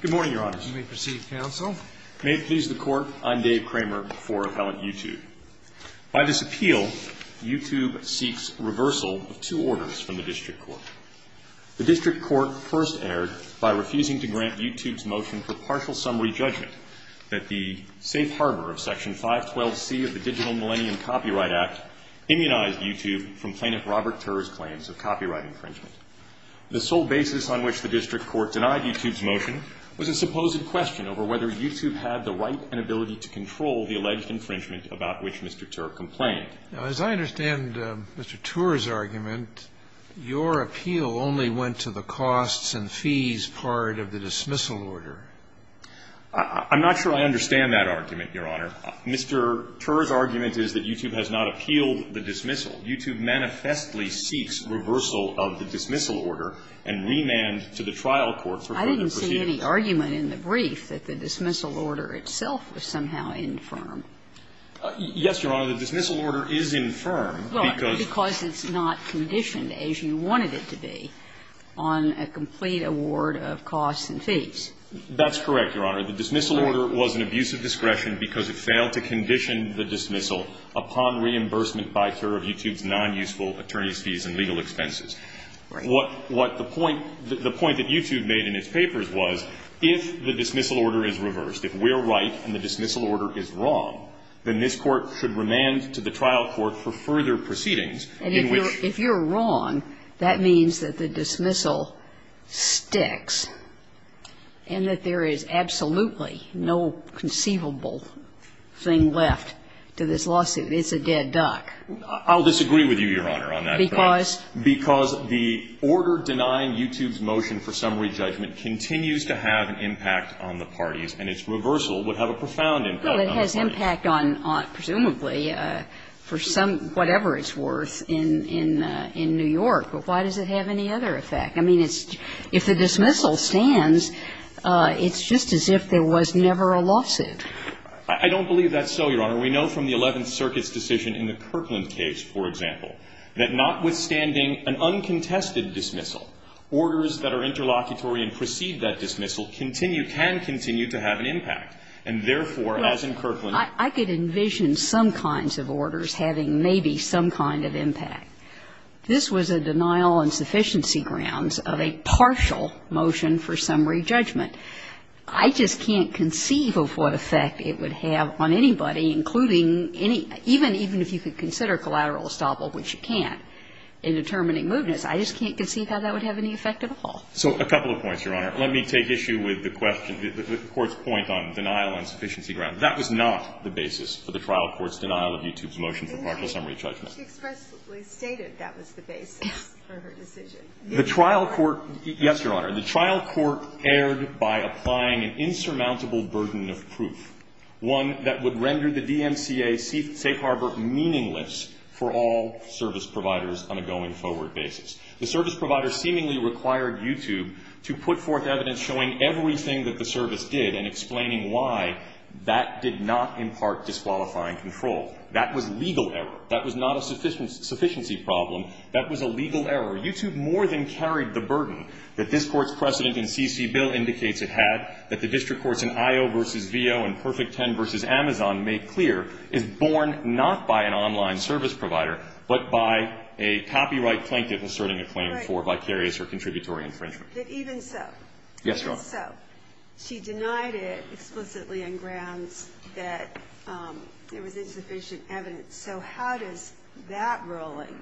Good morning, Your Honors. You may proceed, Counsel. May it please the Court, I'm Dave Kramer for Appellant YouTube. By this appeal, YouTube seeks reversal of two orders from the District Court. The District Court first erred by refusing to grant YouTube's motion for partial summary judgment that the safe harbor of Section 512C of the Digital Millennium Copyright Act immunized YouTube from Plaintiff Robert Tur's claims of copyright infringement. The sole basis on which the District Court denied YouTube's motion was a supposed question over whether YouTube had the right and ability to control the alleged infringement about which Mr. Tur complained. Now, as I understand Mr. Tur's argument, your appeal only went to the costs and fees part of the dismissal order. I'm not sure I understand that argument, Your Honor. Mr. Tur's argument is that YouTube has not appealed the dismissal. YouTube manifestly seeks reversal of the dismissal order and remand to the trial court for further proceedings. I didn't see any argument in the brief that the dismissal order itself was somehow infirm. Yes, Your Honor. The dismissal order is infirm because of the ---- Because it's not conditioned as you wanted it to be on a complete award of costs and fees. That's correct, Your Honor. The dismissal order was an abuse of discretion because it failed to condition the dismissal upon reimbursement by Tur of YouTube's nonuseful attorney's fees and legal expenses. Right. What the point that YouTube made in its papers was if the dismissal order is reversed, if we're right and the dismissal order is wrong, then this Court should remand to the trial court for further proceedings in which ---- And if you're wrong, that means that the dismissal sticks and that there is absolutely no conceivable thing left to this lawsuit. It's a dead duck. I'll disagree with you, Your Honor, on that point. Because? Because the order denying YouTube's motion for summary judgment continues to have an impact on the parties, and its reversal would have a profound impact on the parties. Well, it has impact on, presumably, for whatever it's worth in New York. But why does it have any other effect? I mean, if the dismissal stands, it's just as if there was never a lawsuit. I don't believe that's so, Your Honor. We know from the Eleventh Circuit's decision in the Kirkland case, for example, that notwithstanding an uncontested dismissal, orders that are interlocutory and precede that dismissal continue, can continue to have an impact. And therefore, as in Kirkland ---- I could envision some kinds of orders having maybe some kind of impact. This was a denial on sufficiency grounds of a partial motion for summary judgment. I just can't conceive of what effect it would have on anybody, including any ---- even if you could consider collateral estoppel, which you can't, in determining movements, I just can't conceive how that would have any effect at all. So a couple of points, Your Honor. Let me take issue with the question ---- the Court's point on denial on sufficiency grounds. That was not the basis for the trial court's denial of YouTube's motion for partial summary judgment. But she expressly stated that was the basis for her decision. The trial court ---- Yes, Your Honor. The trial court erred by applying an insurmountable burden of proof, one that would render the DMCA safe harbor meaningless for all service providers on a going forward basis. The service provider seemingly required YouTube to put forth evidence showing everything that the service did and explaining why that did not impart disqualifying control. That was legal error. That was not a sufficiency problem. That was a legal error. YouTube more than carried the burden that this Court's precedent in CC Bill indicates it had, that the district courts in IO v. VO and Perfect Ten v. Amazon made clear is born not by an online service provider, but by a copyright plaintiff asserting a claim for vicarious or contributory infringement. But even so ---- Yes, Your Honor. Even so, she denied it explicitly on grounds that there was insufficient evidence. So how does that ruling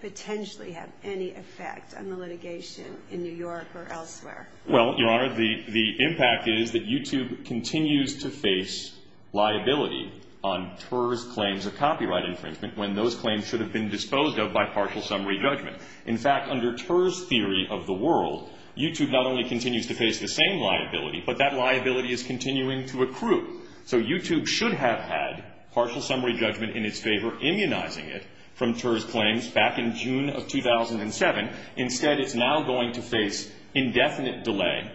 potentially have any effect on the litigation in New York or elsewhere? Well, Your Honor, the impact is that YouTube continues to face liability on Ter's claims of copyright infringement when those claims should have been disposed of by partial summary judgment. In fact, under Ter's theory of the world, YouTube not only continues to face the same liability, but that liability is continuing to accrue. So YouTube should have had partial summary judgment in its favor, immunizing it from Ter's claims back in June of 2007. Instead, it's now going to face indefinite delay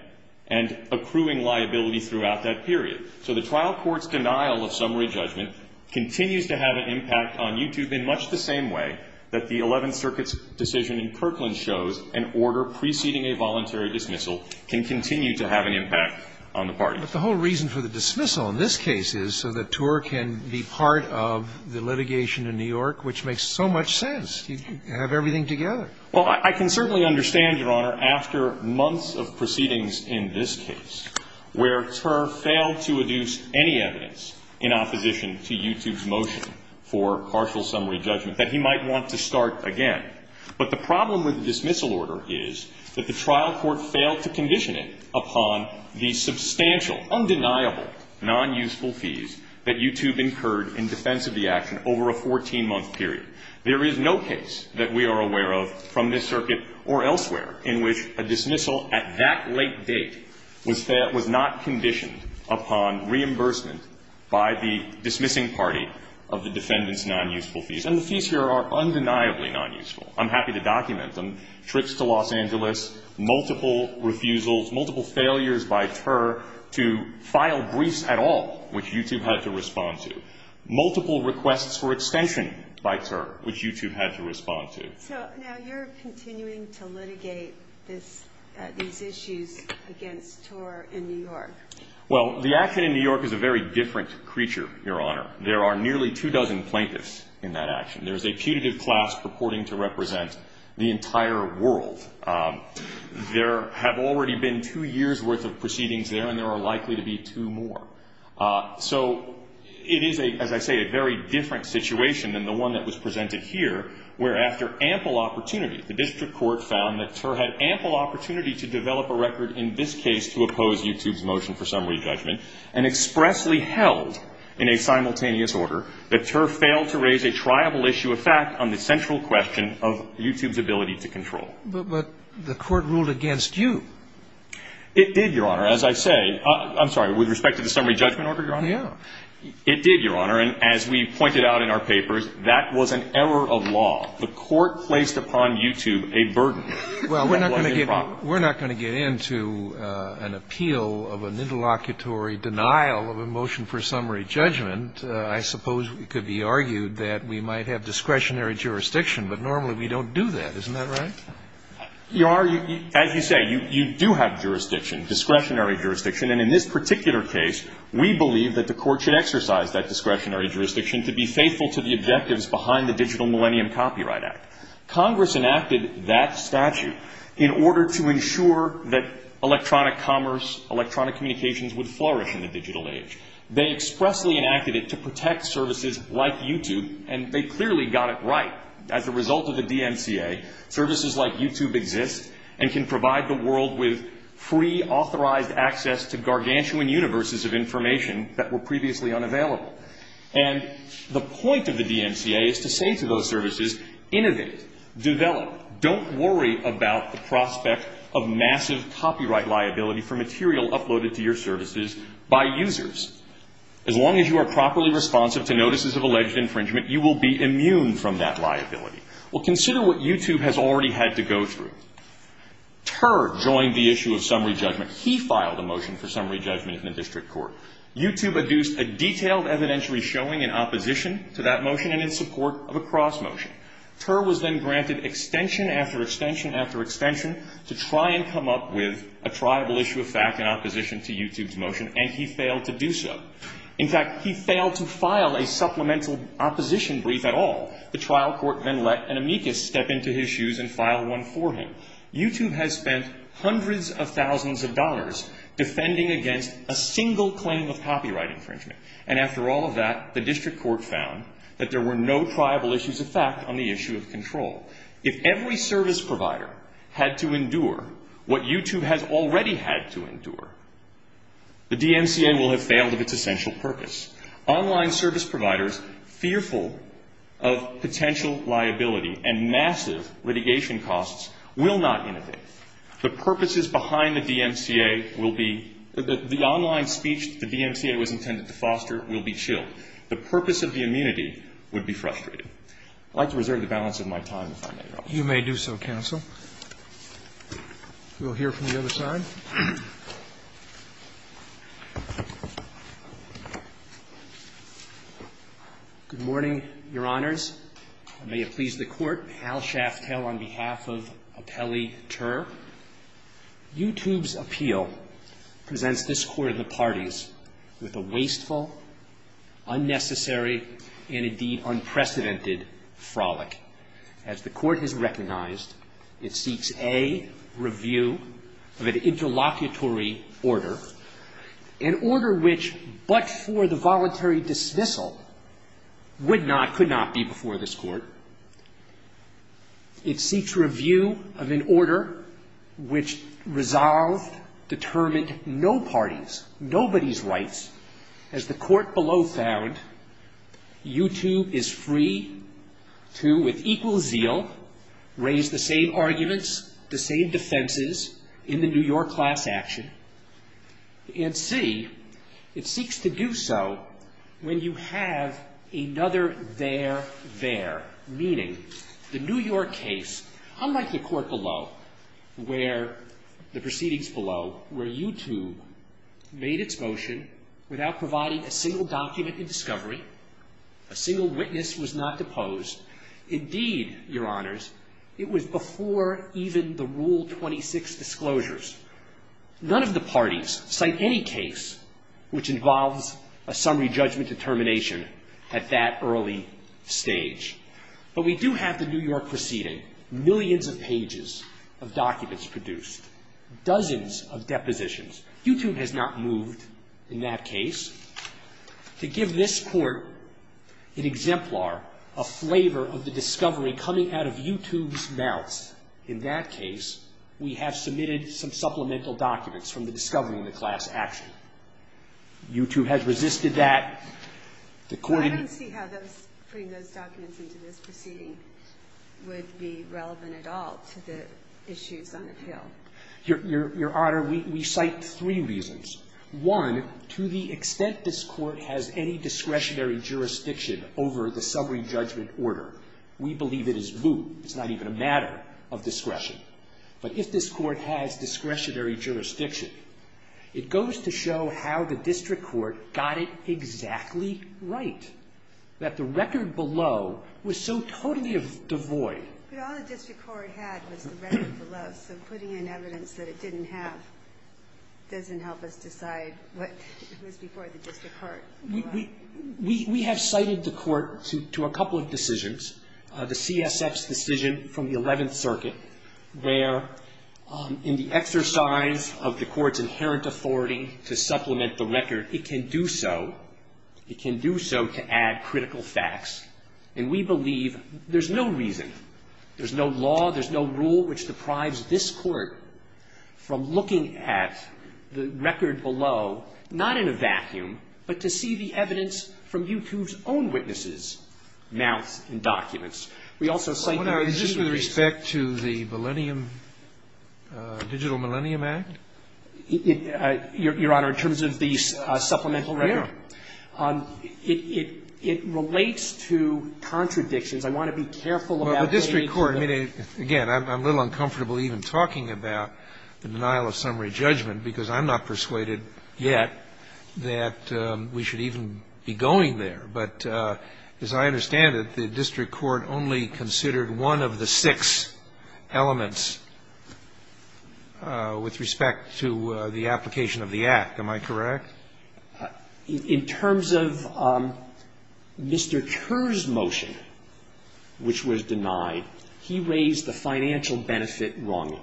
and accruing liability throughout that period. So the trial court's denial of summary judgment continues to have an impact on YouTube in much the same way that the Eleventh Circuit's decision in Kirkland shows an order preceding a voluntary dismissal can continue to have an impact on the parties. But the whole reason for the dismissal in this case is so that Ter can be part of the litigation in New York, which makes so much sense. You have everything together. Well, I can certainly understand, Your Honor, after months of proceedings in this case where Ter failed to adduce any evidence in opposition to YouTube's motion for partial summary judgment, that he might want to start again. But the problem with the dismissal order is that the trial court failed to condition it upon the substantial, undeniable, non-useful fees that YouTube incurred in defense of the action over a 14-month period. There is no case that we are aware of from this circuit or elsewhere in which a dismissal at that late date was not conditioned upon reimbursement by the dismissing party of the defendant's non-useful fees. And the fees here are undeniably non-useful. I'm happy to document them. multiple refusals, multiple failures by Ter to file briefs at all, which YouTube had to respond to. Multiple requests for extension by Ter, which YouTube had to respond to. So now you're continuing to litigate these issues against Ter in New York. Well, the action in New York is a very different creature, Your Honor. There are nearly two dozen plaintiffs in that action. There's a putative class purporting to represent the entire world. There have already been two years' worth of proceedings there, and there are likely to be two more. So it is, as I say, a very different situation than the one that was presented here, where after ample opportunity, the district court found that Ter had ample opportunity to develop a record in this case to oppose YouTube's motion for summary judgment and expressly held in a simultaneous order that Ter failed to raise a triable issue of fact on the central question of YouTube's ability to control. But the court ruled against you. It did, Your Honor, as I say. I'm sorry. With respect to the summary judgment order, Your Honor? Yeah. It did, Your Honor. And as we pointed out in our papers, that was an error of law. The court placed upon YouTube a burden. Well, we're not going to get into an appeal of an interlocutory denial of a motion for summary judgment. I suppose it could be argued that we might have discretionary jurisdiction, but normally we don't do that. Isn't that right? Your Honor, as you say, you do have jurisdiction, discretionary jurisdiction. And in this particular case, we believe that the court should exercise that discretionary jurisdiction to be faithful to the objectives behind the Digital Millennium Copyright Act. Congress enacted that statute in order to ensure that electronic commerce, electronic communications would flourish in the digital age. They expressly enacted it to protect services like YouTube, and they clearly got it right. As a result of the DMCA, services like YouTube exist and can provide the world with free, authorized access to gargantuan universes of information that were previously unavailable. And the point of the DMCA is to say to those services, innovate, develop, don't worry about the prospect of massive copyright liability for material uploaded to your services by users. As long as you are properly responsive to notices of alleged infringement, you will be immune from that liability. Well, consider what YouTube has already had to go through. Ter joined the issue of summary judgment. He filed a motion for summary judgment in the district court. YouTube adduced a detailed evidentiary showing in opposition to that motion and in support of a cross motion. Ter was then granted extension after extension after extension to try and come up with a triable issue of fact in opposition to YouTube's motion, and he failed to do so. In fact, he failed to file a supplemental opposition brief at all. The trial court then let an amicus step into his shoes and file one for him. YouTube has spent hundreds of thousands of dollars defending against a single claim of copyright infringement. And after all of that, the district court found that there were no triable issues of fact on the issue of control. If every service provider had to endure what YouTube has already had to endure, the DMCA will have failed of its essential purpose. Online service providers fearful of potential liability and massive litigation costs will not innovate. The purposes behind the DMCA will be the online speech the DMCA was intended to foster will be chilled. The purpose of the immunity would be frustrated. I'd like to reserve the balance of my time if I may, Your Honor. You may do so, counsel. We'll hear from the other side. Good morning, Your Honors. May it please the court, Hal Shaftel on behalf of Apelli Ter. YouTube's appeal presents this court of the parties with a wasteful, unnecessary, and indeed unprecedented frolic. As the court has recognized, it seeks a review of an interlocutory order, an order which but for the voluntary dismissal would not, could not be before this court. It seeks review of an order which resolved, determined no parties, nobody's rights. As the court below found, YouTube is free to, with equal zeal, raise the same arguments, the same defenses in the New York class action, and C, it seeks to do so when you have another there, there. Meaning, the New York case, unlike the court below, where the proceedings below, where YouTube made its motion without providing a single document in discovery, a single witness was not deposed, indeed, Your Honors, it was before even the Rule 26 disclosures. None of the parties cite any case which involves a summary judgment determination at that early stage. But we do have the New York proceeding, millions of pages of documents produced, dozens of depositions. YouTube has not moved in that case. To give this court an exemplar, a flavor of the discovery coming out of YouTube's mouth, in that case, we have submitted some supplemental documents from the discovery in the class action. YouTube has resisted that. The court in the next case. Your Honor, we cite three reasons. One, to the extent this court has any discretionary jurisdiction over the summary judgment order, we believe it is voodoo. It's not even a matter of discretion. But if this court has discretionary jurisdiction, it goes to show how the district court got it exactly right, that the record below was so totally devoid. But all the district court had was the record below, so putting in evidence that it didn't have doesn't help us decide what was before the district court. We have cited the court to a couple of decisions. The CSF's decision from the Eleventh Circuit, where in the exercise of the court's inherent authority to supplement the record, it can do so. It can do so to add critical facts. And we believe there's no reason, there's no law, there's no rule, which deprives this court from looking at the record below, not in a vacuum, but to see the evidence from YouTube's own witnesses' mouths and documents. We also cite the existing reasons. But, Your Honor, is this with respect to the Millennium, Digital Millennium Act? Your Honor, in terms of the supplemental record? Yes. It relates to contradictions. I want to be careful about saying it's not. Well, the district court, I mean, again, I'm a little uncomfortable even talking about the denial of summary judgment, because I'm not persuaded yet that we should even be going there. But as I understand it, the district court only considered one of the six elements with respect to the application of the Act. Am I correct? In terms of Mr. Kerr's motion, which was denied, he raised the financial benefit wrongly.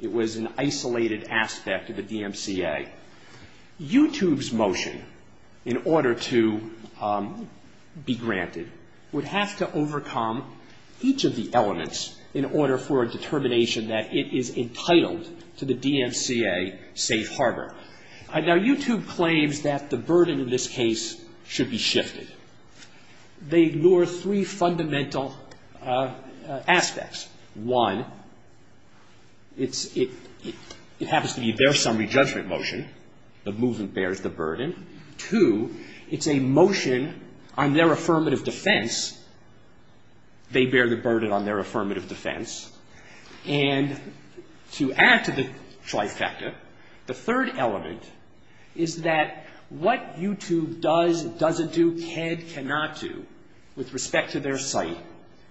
It was an isolated aspect of the DMCA. YouTube's motion, in order to be granted, would have to overcome each of the elements in order for a determination that it is entitled to the DMCA safe harbor. Now, YouTube claims that the burden in this case should be shifted. They ignore three fundamental aspects. One, it happens to be their summary judgment motion. The movement bears the burden. Two, it's a motion on their affirmative defense. They bear the burden on their affirmative defense. And to add to the trifecta, the third element is that what YouTube does, doesn't do, can, cannot do with respect to their site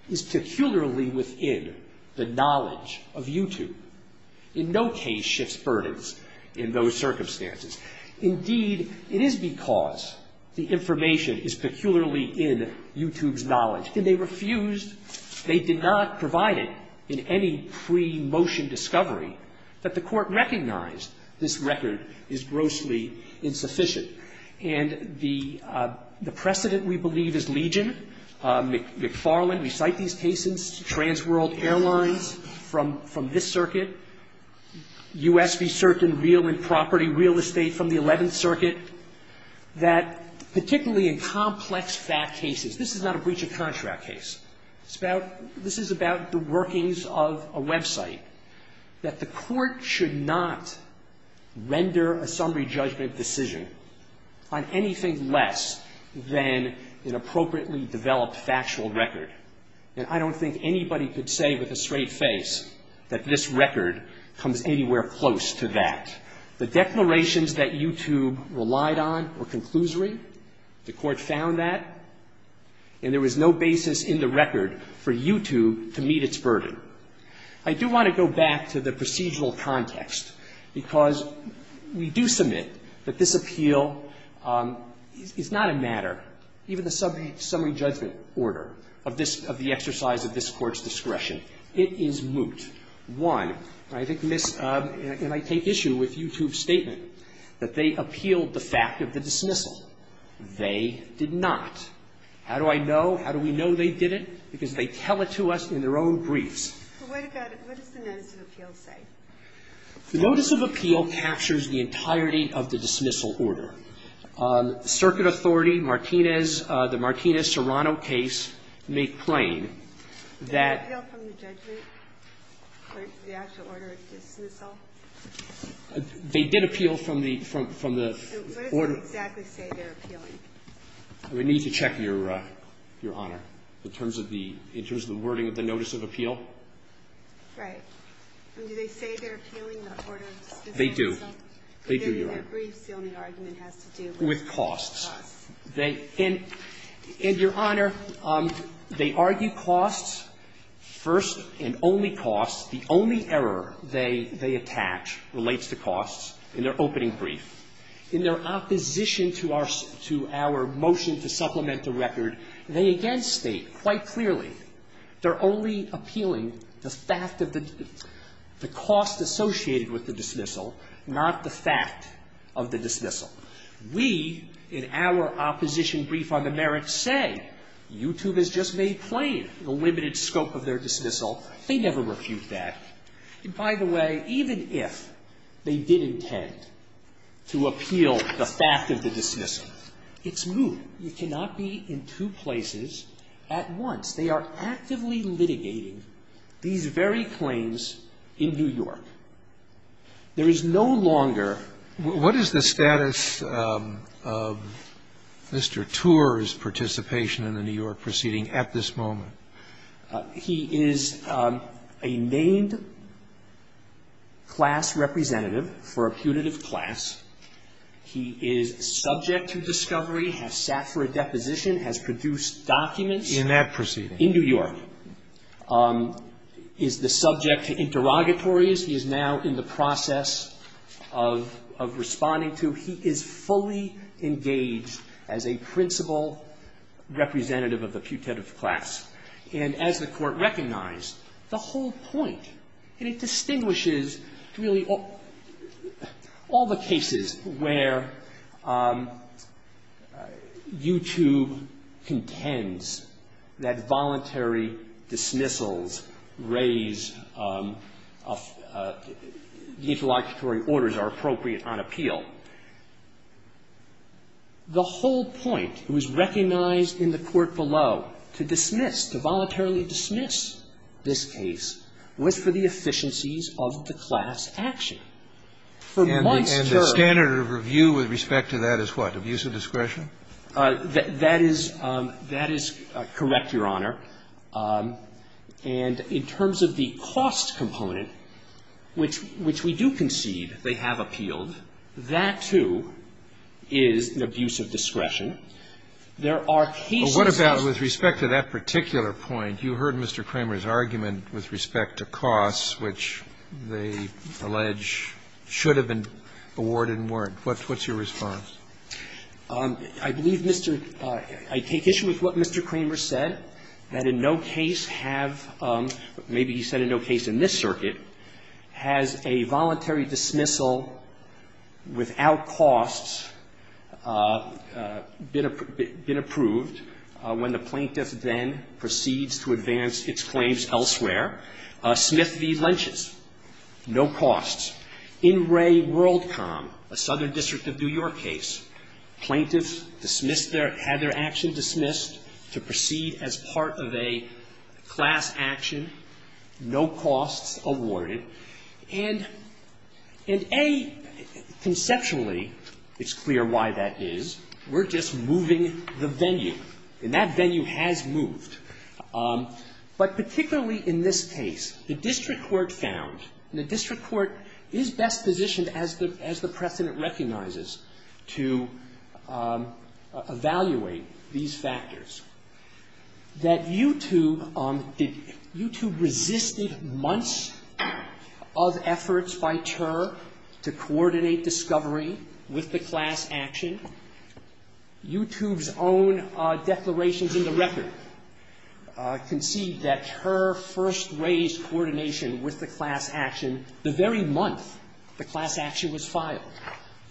is peculiarly within the knowledge of YouTube. In no case shifts burdens in those circumstances. Indeed, it is because the information is peculiarly in YouTube's knowledge. And they refused. They did not provide it in any pre-motion discovery that the Court recognized this record is grossly insufficient. And the precedent, we believe, is Legion, McFarland. We cite these cases. Transworld Airlines from this circuit. U.S. v. Certain Real and Property Real Estate from the Eleventh Circuit. That particularly in complex fact cases, this is not a breach of contract case. This is about the workings of a website. That the Court should not render a summary judgment decision on anything less than an appropriately developed factual record. And I don't think anybody could say with a straight face that this record comes anywhere close to that. The declarations that YouTube relied on were conclusory. The Court found that. And there was no basis in the record for YouTube to meet its burden. I do want to go back to the procedural context. Because we do submit that this appeal is not a matter, even the summary judgment order of this, of the exercise of this Court's discretion. It is moot. One, and I take issue with YouTube's statement, that they appealed the fact of the dismissal. They did not. How do I know? How do we know they did it? Because they tell it to us in their own briefs. What does the notice of appeal say? The notice of appeal captures the entirety of the dismissal order. Circuit authority, Martinez, the Martinez-Serrano case, make plain that The actual order of dismissal? They did appeal from the order. What does it exactly say they're appealing? We need to check, Your Honor, in terms of the wording of the notice of appeal. Right. And do they say they're appealing the order of dismissal? They do. They do, Your Honor. In their briefs, the only argument has to do with costs. With costs. And, Your Honor, they argue costs first and only costs. The only error they attach relates to costs in their opening brief. In their opposition to our motion to supplement the record, they again state quite clearly they're only appealing the fact of the cost associated with the dismissal, not the fact of the dismissal. We, in our opposition brief on the merits, say YouTube has just made plain the limited scope of their dismissal. They never refute that. And, by the way, even if they did intend to appeal the fact of the dismissal, it's moot. You cannot be in two places at once. They are actively litigating these very claims in New York. There is no longer What is the status of Mr. Tour's participation in the New York proceeding at this moment? He is a named class representative for a putative class. He is subject to discovery, has sat for a deposition, has produced documents In that proceeding. In New York. Is the subject to interrogatories. He is now in the process of responding to. He is fully engaged as a principal representative of the putative class. And as the Court recognized, the whole point, and it distinguishes really all the cases where YouTube contends that voluntary dismissals raise the interlocutory orders are appropriate on appeal. The whole point, it was recognized in the court below, to dismiss, to voluntarily dismiss this case, was for the efficiencies of the class action. And the standard of review with respect to that is what? Abuse of discretion? That is correct, Your Honor. And in terms of the cost component, which we do concede they have appealed, that, too, is an abuse of discretion. There are cases of What about with respect to that particular point? You heard Mr. Kramer's argument with respect to costs, which they allege should have been awarded and weren't. What's your response? I believe Mr. — I take issue with what Mr. Kramer said, that in no case have — maybe he said in no case in this circuit — has a voluntary dismissal without costs been approved when the plaintiff then proceeds to advance its claims elsewhere. Smith v. Lynch's, no costs. In Ray Worldcom, a Southern District of New York case, plaintiffs dismissed their — had their action dismissed to proceed as part of a class action, no costs awarded. And, A, conceptually, it's clear why that is. We're just moving the venue. And that venue has moved. But particularly in this case, the district court found — and the district court is best positioned, as the precedent recognizes, to evaluate these factors — that YouTube — YouTube resisted months of efforts by TUR to coordinate discovery with the class action. YouTube's own declarations in the record concede that TUR first raised coordination with the class action the very month the class action was filed.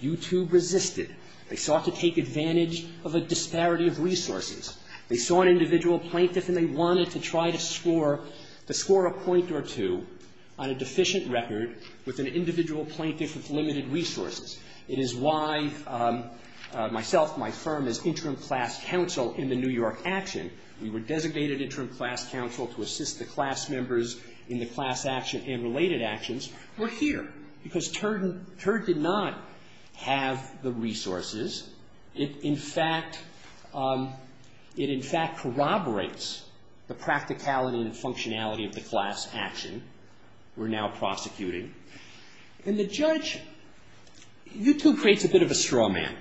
YouTube resisted. They sought to take advantage of a disparity of resources. They saw an individual plaintiff, and they wanted to try to score — to score a point or two on a deficient record with an individual plaintiff with limited resources. It is why myself, my firm, as interim class counsel in the New York action — we were designated interim class counsel to assist the class members in the class action and related actions — were here, because TUR did not have the resources. It, in fact — it, in fact, corroborates the practicality and functionality of the class action we're now prosecuting. And the judge — YouTube creates a bit of a straw man.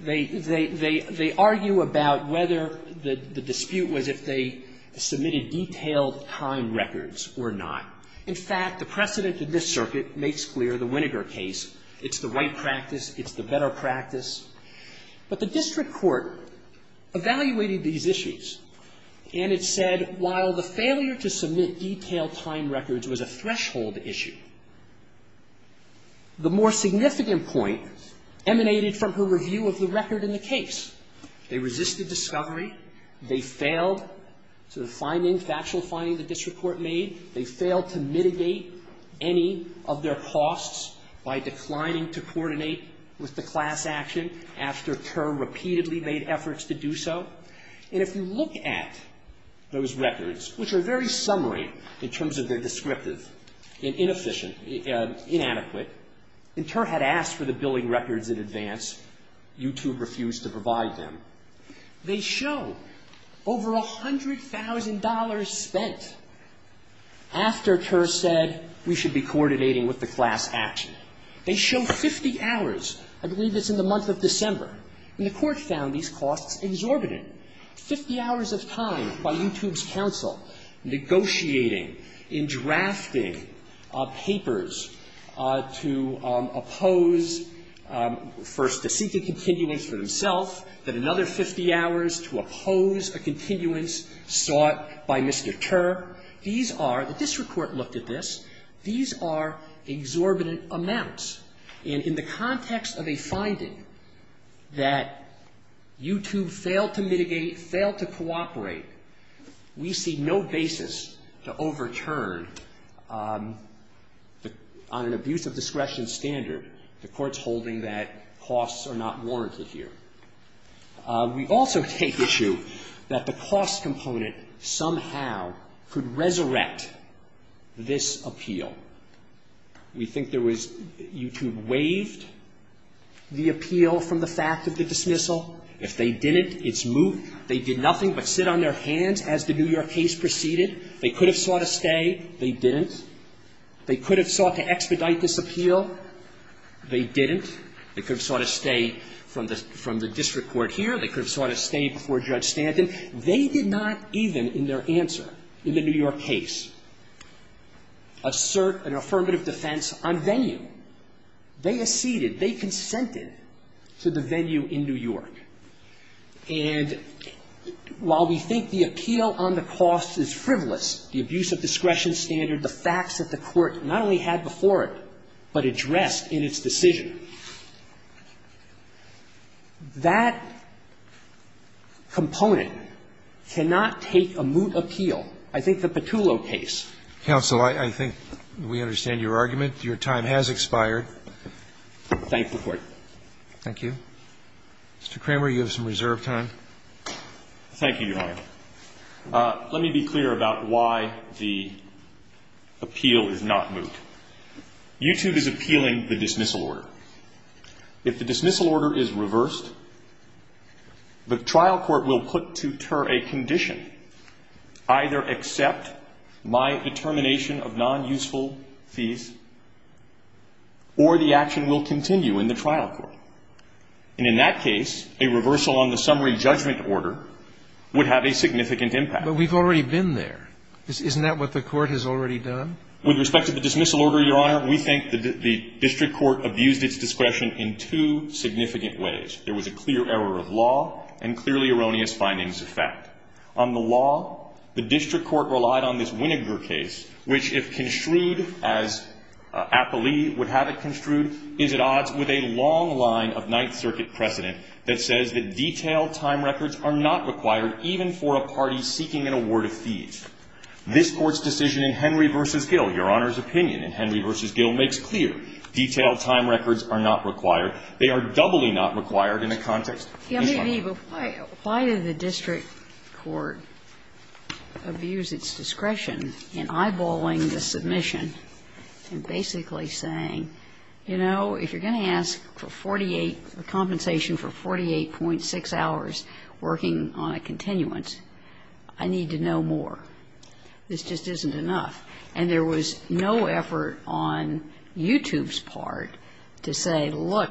They argue about whether the dispute was if they submitted detailed time records or not. In fact, the precedent in this circuit makes clear the Winneger case. It's the right practice. It's the better practice. But the district court evaluated these issues, and it said while the failure to submit detailed time records was a threshold issue, the more significant point emanated from her review of the record in the case. They resisted discovery. They failed to find any factual finding the district court made. They failed to mitigate any of their costs by declining to coordinate with the class action after TUR repeatedly made efforts to do so. And if you look at those records, which are very summary in terms of their descriptive and inefficient, inadequate, and TUR had asked for the billing records in advance, YouTube refused to provide them. They show over $100,000 spent after TUR said we should be coordinating with the class action. They show 50 hours. I believe it's in the month of December. And the Court found these costs exorbitant. Fifty hours of time by YouTube's counsel negotiating and drafting papers to oppose first a seated continuance for themselves, then another 50 hours to oppose a continuance sought by Mr. TUR. These are the district court looked at this. These are exorbitant amounts. And in the context of a finding that YouTube failed to mitigate, failed to cooperate, we see no basis to overturn on an abuse of discretion standard the Court's holding that costs are not warranted here. We also take issue that the cost component somehow could resurrect this appeal. We think there was YouTube waived the appeal from the fact of the dismissal. If they didn't, it's moved. They did nothing but sit on their hands as the New York case proceeded. They could have sought a stay. They didn't. They could have sought to expedite this appeal. They didn't. They could have sought a stay from the district court here. They could have sought a stay before Judge Stanton. They did not even in their answer in the New York case assert an affirmative defense on venue. They acceded. They consented to the venue in New York. And while we think the appeal on the cost is frivolous, the abuse of discretion standard, the facts that the Court not only had before it but addressed in its decision, that component cannot take a moot appeal. I think the Petullo case. Roberts, I think we understand your argument. Your time has expired. Thank the Court. Thank you. Mr. Kramer, you have some reserve time. Thank you, Your Honor. Let me be clear about why the appeal is not moot. YouTube is appealing the dismissal order. If the dismissal order is reversed, the trial court will put to ter a condition, either accept my determination of non-useful fees or the action will continue in the trial court. And in that case, a reversal on the summary judgment order would have a significant impact. But we've already been there. Isn't that what the Court has already done? With respect to the dismissal order, Your Honor, we think the district court abused its discretion in two significant ways. There was a clear error of law and clearly erroneous findings of fact. On the law, the district court relied on this Winograd case, which if construed as appellee would have it construed, is at odds with a long line of Ninth Circuit precedent that says that detailed time records are not required even for a party seeking an award of fees. This Court's decision in Henry v. Gill, Your Honor's opinion in Henry v. Gill makes clear detailed time records are not required. They are doubly not required in the context. Ginsburg. Kagan. Why do the district court abuse its discretion in eyeballing the submission and basically saying, you know, if you're going to ask for 48, a compensation for 48.6 hours working on a continuance, I need to know more. This just isn't enough. And there was no effort on YouTube's part to say, look,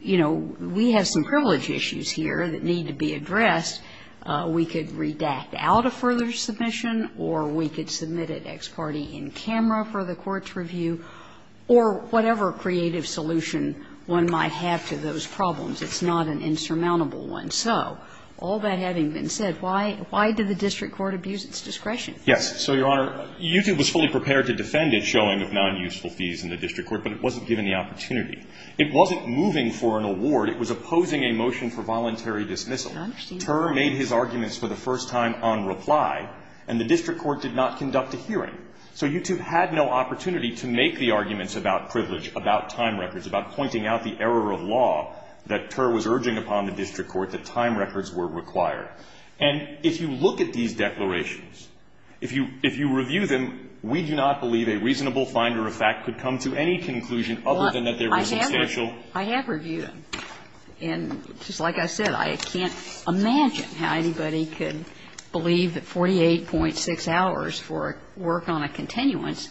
you know, we have some privilege issues here that need to be addressed. We could redact out a further submission or we could submit it ex parte in camera for the court's review or whatever creative solution one might have to those problems. It's not an insurmountable one. So all that having been said, why did the district court abuse its discretion? Yes. So, Your Honor, YouTube was fully prepared to defend its showing of non-useful fees in the district court, but it wasn't given the opportunity. It wasn't moving for an award. It was opposing a motion for voluntary dismissal. I understand. Terr made his arguments for the first time on reply, and the district court did not conduct a hearing. So YouTube had no opportunity to make the arguments about privilege, about time records, about pointing out the error of law that Terr was urging upon the district court that time records were required. And if you look at these declarations, if you review them, we do not believe a reasonable finder of fact could come to any conclusion other than that there was substantial. Well, I have reviewed them. And just like I said, I can't imagine how anybody could believe that 48.6 hours for work on a continuance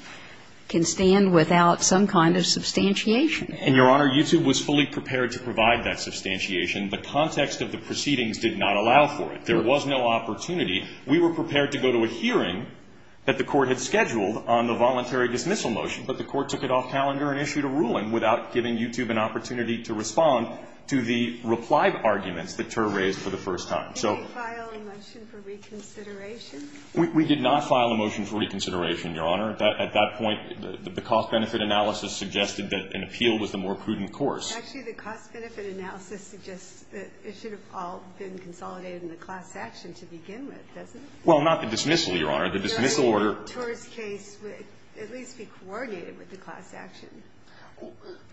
can stand without some kind of substantiation. And, Your Honor, YouTube was fully prepared to provide that substantiation, but context of the proceedings did not allow for it. There was no opportunity. We were prepared to go to a hearing that the court had scheduled on the voluntary dismissal motion, but the court took it off calendar and issued a ruling without giving YouTube an opportunity to respond to the reply arguments that Terr raised for the first time. Did they file a motion for reconsideration? We did not file a motion for reconsideration, Your Honor. At that point, the cost-benefit analysis suggested that an appeal was the more prudent course. Actually, the cost-benefit analysis suggests that it should have all been consolidated in the class action to begin with, doesn't it? Well, not the dismissal, Your Honor. The dismissal order. The Terr's case would at least be coordinated with the class action.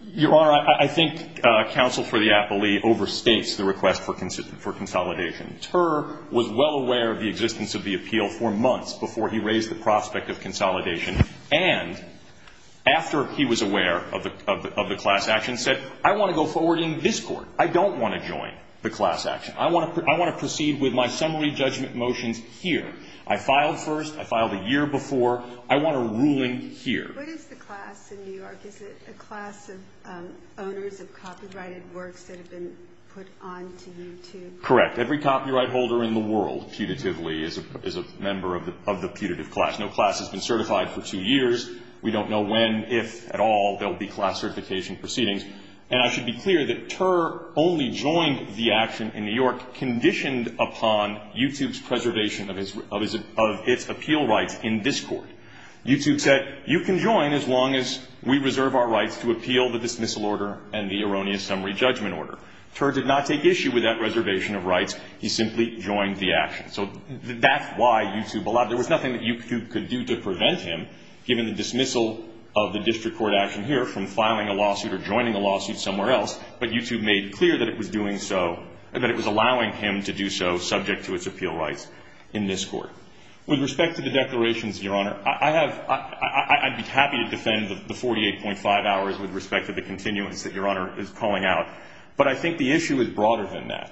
Your Honor, I think counsel for the appellee overstates the request for consolidation. Terr was well aware of the existence of the appeal for months before he raised the prospect of consolidation. And after he was aware of the class action, said, I want to go forward in this court. I don't want to join the class action. I want to proceed with my summary judgment motions here. I filed first. I filed a year before. I want a ruling here. What is the class in New York? Is it a class of owners of copyrighted works that have been put onto YouTube? Correct. Every copyright holder in the world, putatively, is a member of the putative class. No class has been certified for two years. We don't know when, if at all, there will be class certification proceedings. And I should be clear that Terr only joined the action in New York conditioned upon YouTube's preservation of its appeal rights in this court. YouTube said, you can join as long as we reserve our rights to appeal the dismissal order and the erroneous summary judgment order. Terr did not take issue with that reservation of rights. He simply joined the action. So that's why YouTube allowed it. There was nothing that YouTube could do to prevent him, given the dismissal of the district court action here, from filing a lawsuit or joining a lawsuit somewhere else. But YouTube made clear that it was doing so, that it was allowing him to do so subject to its appeal rights in this court. With respect to the declarations, Your Honor, I'd be happy to defend the 48.5 hours with respect to the continuance that Your Honor is calling out. But I think the issue is broader than that.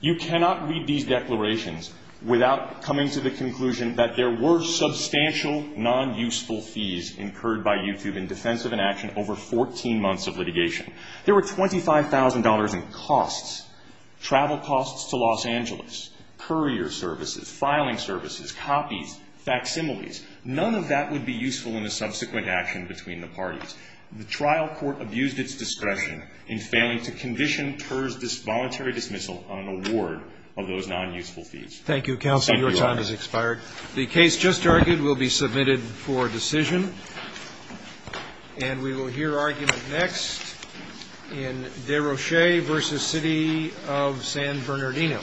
You cannot read these declarations without coming to the conclusion that there were substantial non-useful fees incurred by YouTube in defense of an action over 14 months of litigation. There were $25,000 in costs, travel costs to Los Angeles, courier services, filing services, copies, facsimiles. None of that would be useful in a subsequent action between the parties. The trial court abused its discretion in failing to condition Terr's voluntary dismissal on an award of those non-useful fees. Thank you, counsel. Your time has expired. The case just argued will be submitted for decision. And we will hear argument next in Desrochers v. City of San Bernardino.